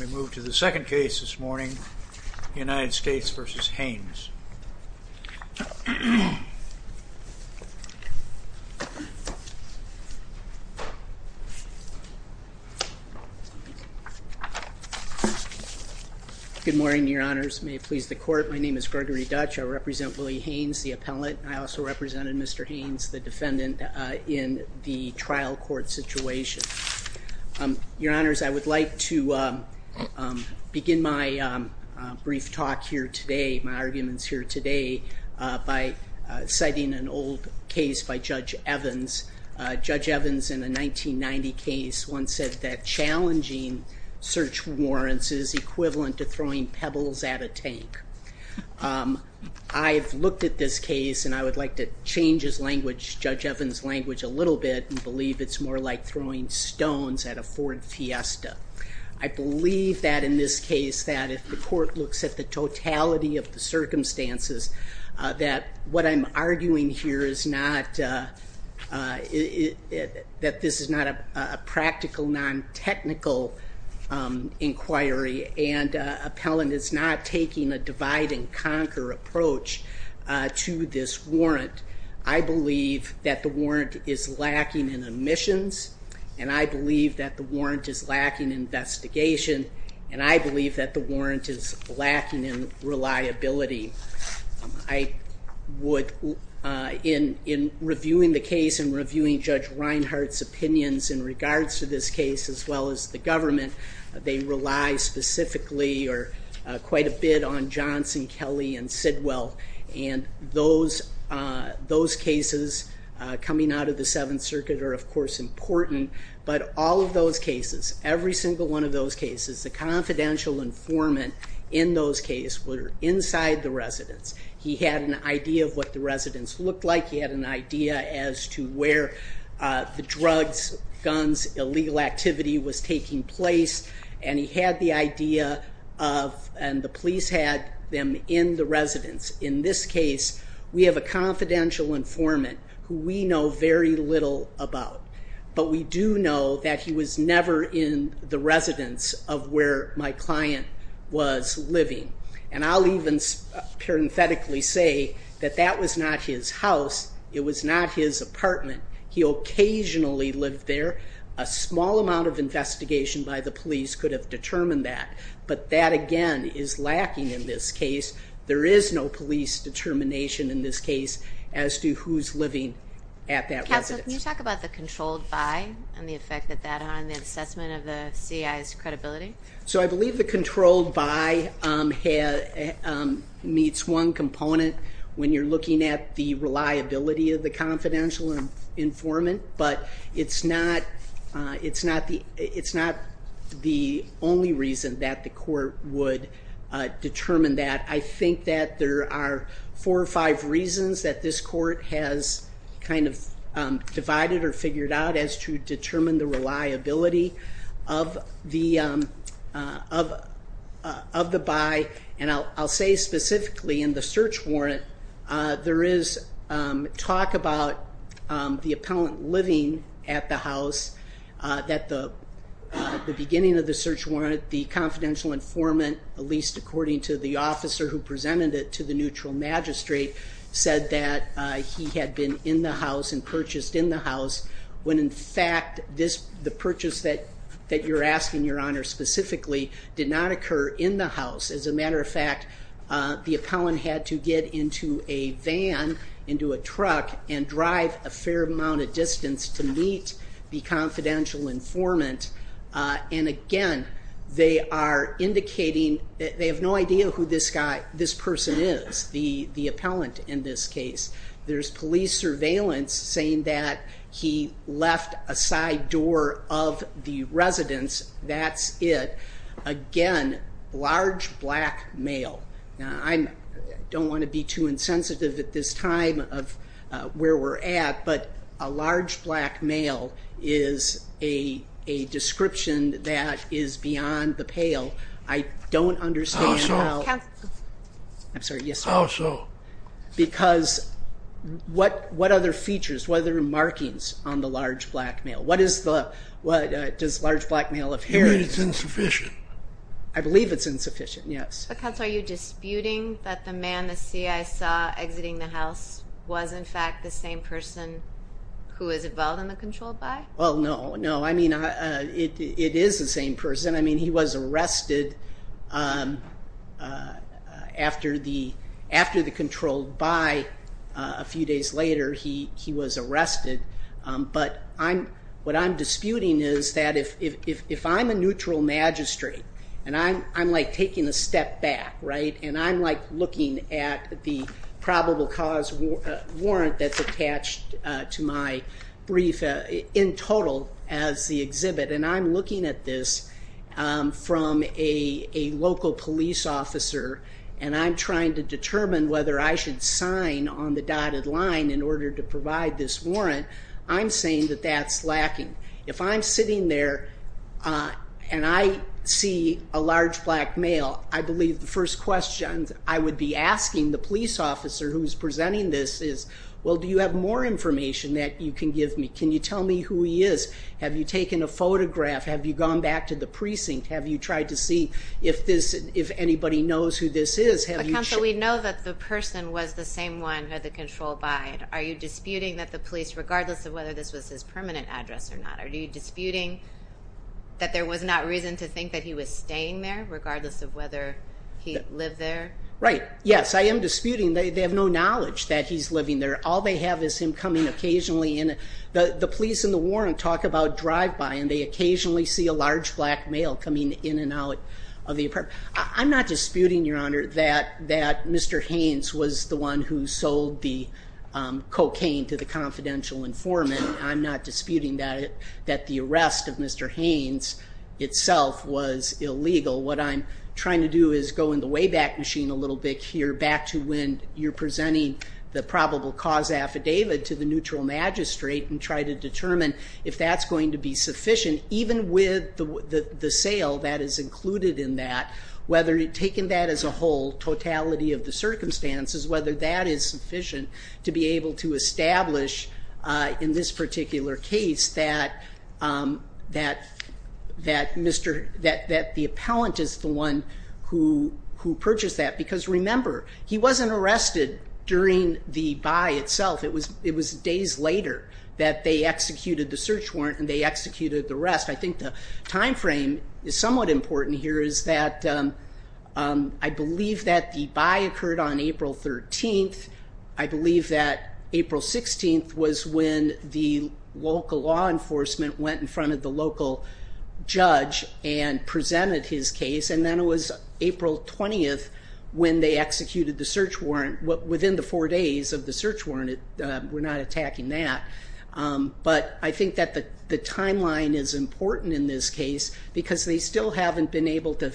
We move to the second case this morning, United States v. Haynes. Good morning, your honors. May it please the court. My name is Gregory Dutch. I represent Willie Haynes, the appellate. I also represented Mr. Haynes, the defendant, in the trial court situation. Your honors, I would like to begin my brief talk here today, my arguments here today, by citing an old case by Judge Evans. Judge Evans, in a 1990 case, once said that challenging search warrants is equivalent to throwing pebbles at a tank. I've looked at this case, and I would like to change his language, Judge Evans' language, a little bit, and believe it's more like throwing stones at a Ford Fiesta. I believe that in this case, that if the court looks at the totality of the circumstances, that what I'm arguing here is not, that this is not a practical, non-technical inquiry, and appellant is not taking a divide and conquer approach to this warrant. I believe that the warrant is lacking in omissions, and I believe that the warrant is lacking in investigation, and I believe that the warrant is lacking in reliability. I would, in reviewing the case and reviewing Judge Reinhart's opinions in regards to this case, as well as the government, they rely specifically, or quite a bit, on Johnson, Kelly, and Sidwell, and those cases coming out of the Seventh Circuit are of course important, but all of those cases, every single one of those cases, the confidential informant in those cases were inside the residence. He had an idea of what the residence looked like, he had an idea as to where the drugs, guns, illegal activity was taking place, and he had the idea of, and the police had them in the residence. In this case, we have a confidential informant who we know very little about, but we do know that he was never in the residence of where my client was living, and I'll even parenthetically say that that was not his house, it was not his apartment. He occasionally lived there. A small amount of investigation by the police could have determined that, but that again is lacking in this case. There is no police determination in this case as to who's living at that residence. Counsel, can you talk about the controlled by, and the effect that that had on the assessment of the CI's credibility? So I believe the controlled by meets one component when you're looking at the reliability of the confidential informant, but it's not the only reason that the court would determine that. I think that there are four or five reasons that this court has kind of divided or figured out as to determine the reliability of the by, and I'll say specifically in the search warrant, there is talk about the appellant living at the house, that the beginning of the search warrant, the confidential informant, at least according to the officer who presented it to the neutral magistrate, said that he had been in the house and purchased in the house, when in fact the purchase that you're asking, Your Honor, specifically did not occur in the house. As a matter of fact, the appellant had to get into a van, into a truck, and drive a fair amount of distance to meet the confidential informant. And again, they are indicating that they have no idea who this person is, the appellant in this case. There's police surveillance saying that he left a side door of the residence, that's it. Again, large black male. I don't want to be too insensitive at this time of where we're at, but a large black male is a description that is beyond the pale. I don't understand how... How so? I'm sorry, yes sir. How so? Because what other features, what other markings on the large black male? What does large black male appear... You mean it's insufficient? I believe it's insufficient, yes. But counsel, are you disputing that the man, the CI saw exiting the house, was in fact the same person who was involved in the controlled by? Well, no, no. I mean, it is the same person. I mean, he was arrested after the controlled by. A few days later, he was arrested. But what I'm disputing is that if I'm a neutral magistrate, and I'm like taking a step back, right? And I'm like looking at the probable cause warrant that's attached to my brief in total as the exhibit. And I'm looking at this from a local police officer, and I'm trying to determine whether I should sign on the dotted line in order to provide this warrant. I'm saying that that's lacking. If I'm sitting there, and I see a large black male, I believe the first question I would be asking the police officer who's presenting this is, well, do you have more information that you can give me? Can you tell me who he is? Have you taken a photograph? Have you gone back to the precinct? Have you tried to see if anybody knows who this is? Counsel, we know that the person was the same one who had the controlled by. Are you disputing that the police, regardless of whether this was his permanent address or not, are you disputing that there was not reason to think that he was staying there, regardless of whether he lived there? Right. Yes, I am disputing. They have no knowledge that he's living there. All they have is him coming occasionally in. The police and the warrant talk about drive-by, and they occasionally see a large black male coming in and out of the apartment. I'm not disputing, Your Honor, that Mr. Haynes was the one who sold the cocaine to the confidential informant. I'm not disputing that the arrest of Mr. Haynes itself was illegal. What I'm trying to do is go in the way back machine a little bit here, back to when you're presenting the probable cause affidavit to the neutral magistrate and try to determine if that's going to be sufficient, even with the sale that is included in that, whether taking that as a whole, totality of the circumstances, whether that is sufficient to be able to establish, in this particular case, that the appellant is the one who purchased that. Because remember, he wasn't arrested during the buy itself. It was days later that they executed the search warrant and they executed the arrest. I think the time frame is somewhat important here is that I believe that the buy occurred on April 13th. I believe that April 16th was when the local law enforcement went in front of the local judge and presented his case. And then it was April 20th when they executed the search warrant, within the four days of the search warrant. We're not attacking that. But I think that the timeline is important in this case because they still haven't been able to,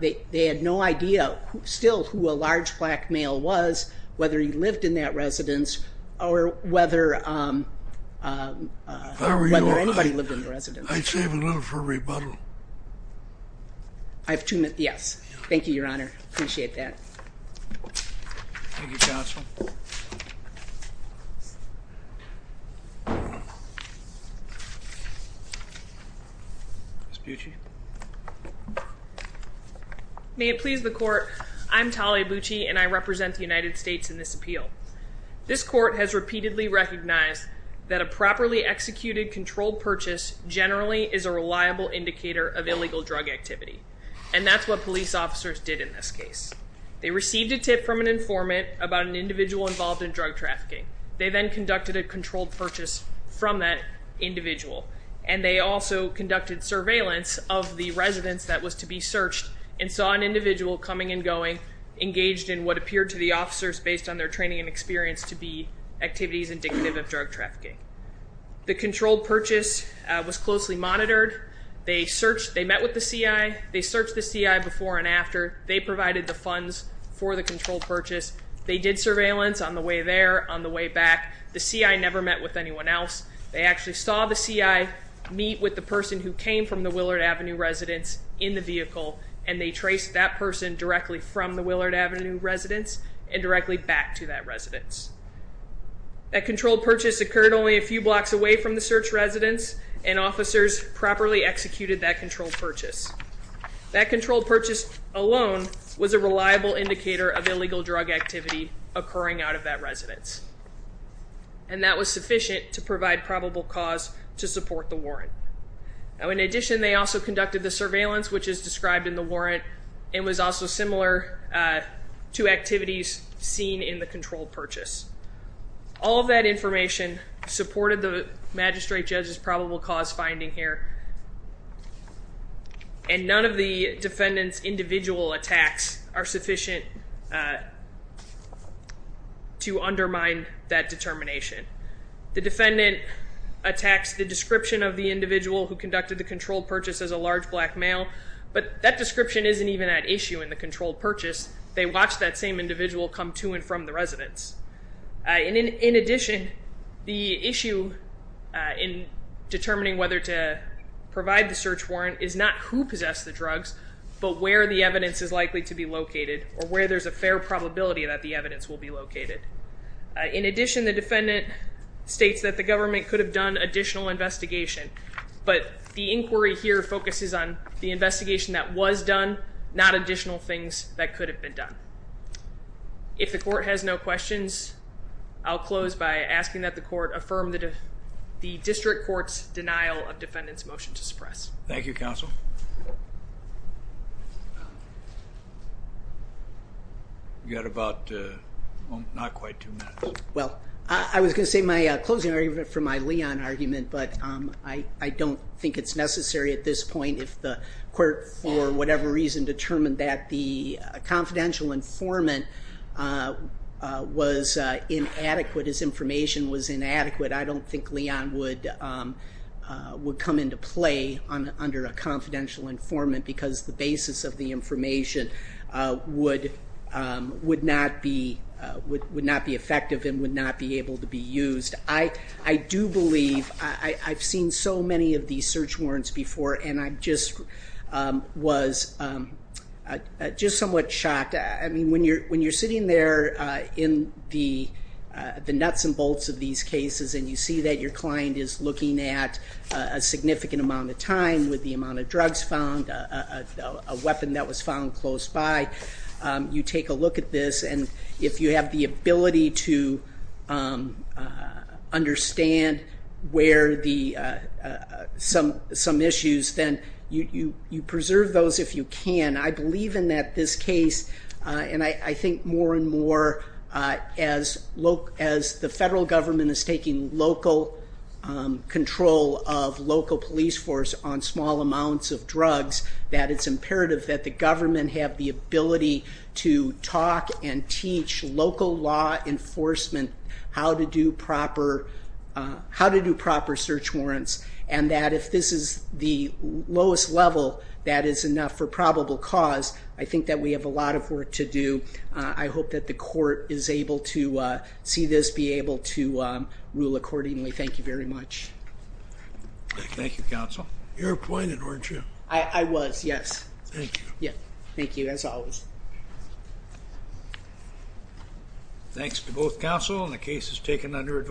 they had no idea still who a large black male was, whether he lived in that residence or whether anybody lived in the residence. I'd save a little for rebuttal. I have two minutes. Yes. Thank you, Your Honor. Appreciate that. Thank you, Counsel. Ms. Bucci. May it please the court. I'm Talia Bucci and I represent the United States in this appeal. This court has repeatedly recognized that a properly executed controlled purchase generally is a reliable indicator of illegal drug activity. And that's what police officers did in this case. They received a tip from an informant about an individual involved in drug trafficking. They then conducted a controlled purchase from that individual. And they also conducted surveillance of the residence that was to be searched and saw an individual coming and going, engaged in what appeared to the officers based on their training and experience to be activities indicative of drug trafficking. The controlled purchase was closely monitored. They searched, they met with the CI. They searched the CI before and after. They provided the funds for the controlled purchase. They did surveillance on the way there, on the way back. The CI never met with anyone else. They actually saw the CI meet with the person who came from the Willard Avenue residence in the vehicle. And they traced that person directly from the Willard Avenue residence and directly back to that residence. That controlled purchase occurred only a few blocks away from the search residence and officers properly executed that controlled purchase. That controlled purchase alone was a reliable indicator of illegal drug activity occurring out of that residence. And that was sufficient to provide probable cause to support the warrant. In addition, they also conducted the surveillance, which is described in the warrant, and was also similar to activities seen in the controlled purchase. All of that information supported the magistrate judge's probable cause finding here. And none of the defendant's individual attacks are sufficient to undermine that determination. The defendant attacks the description of the individual who conducted the controlled purchase as a large black male, but that description isn't even at issue in the controlled purchase. They watched that same individual come to and from the residence. In addition, the issue in determining whether to provide the search warrant is not who possessed the drugs, but where the evidence is likely to be located or where there's a fair probability that the evidence will be located. In addition, the defendant states that the government could have done additional investigation, but the inquiry here focuses on the investigation that was done, not additional things that could have been done. If the court has no questions, I'll close by asking that the court affirm the district court's denial of defendant's motion to suppress. Thank you, counsel. You've got about not quite two minutes. Well, I was going to say my closing argument for my Leon argument, but I don't think it's necessary at this point if the court, for whatever reason, determined that the confidential informant was inadequate, his information was inadequate, I don't think Leon would come into play under a confidential informant because the basis of the information would not be effective and would not be able to be used. I do believe I've seen so many of these search warrants before, and I just was somewhat shocked. When you're sitting there in the nuts and bolts of these cases and you see that your client is looking at a significant amount of time with the amount of drugs found, a weapon that was found close by, you take a look at this, and if you have the ability to understand some issues, then you preserve those if you can. I believe in this case, and I think more and more as the federal government is taking local control of local police force on small amounts of drugs, that it's imperative that the government have the ability to talk and teach local law enforcement how to do proper search warrants and that if this is the lowest level, that is enough for probable cause. I think that we have a lot of work to do. I hope that the court is able to see this, be able to rule accordingly. Thank you very much. Thank you, counsel. You were appointed, weren't you? I was, yes. Thank you. Thank you, as always. Thanks to both counsel and the cases taken under advice.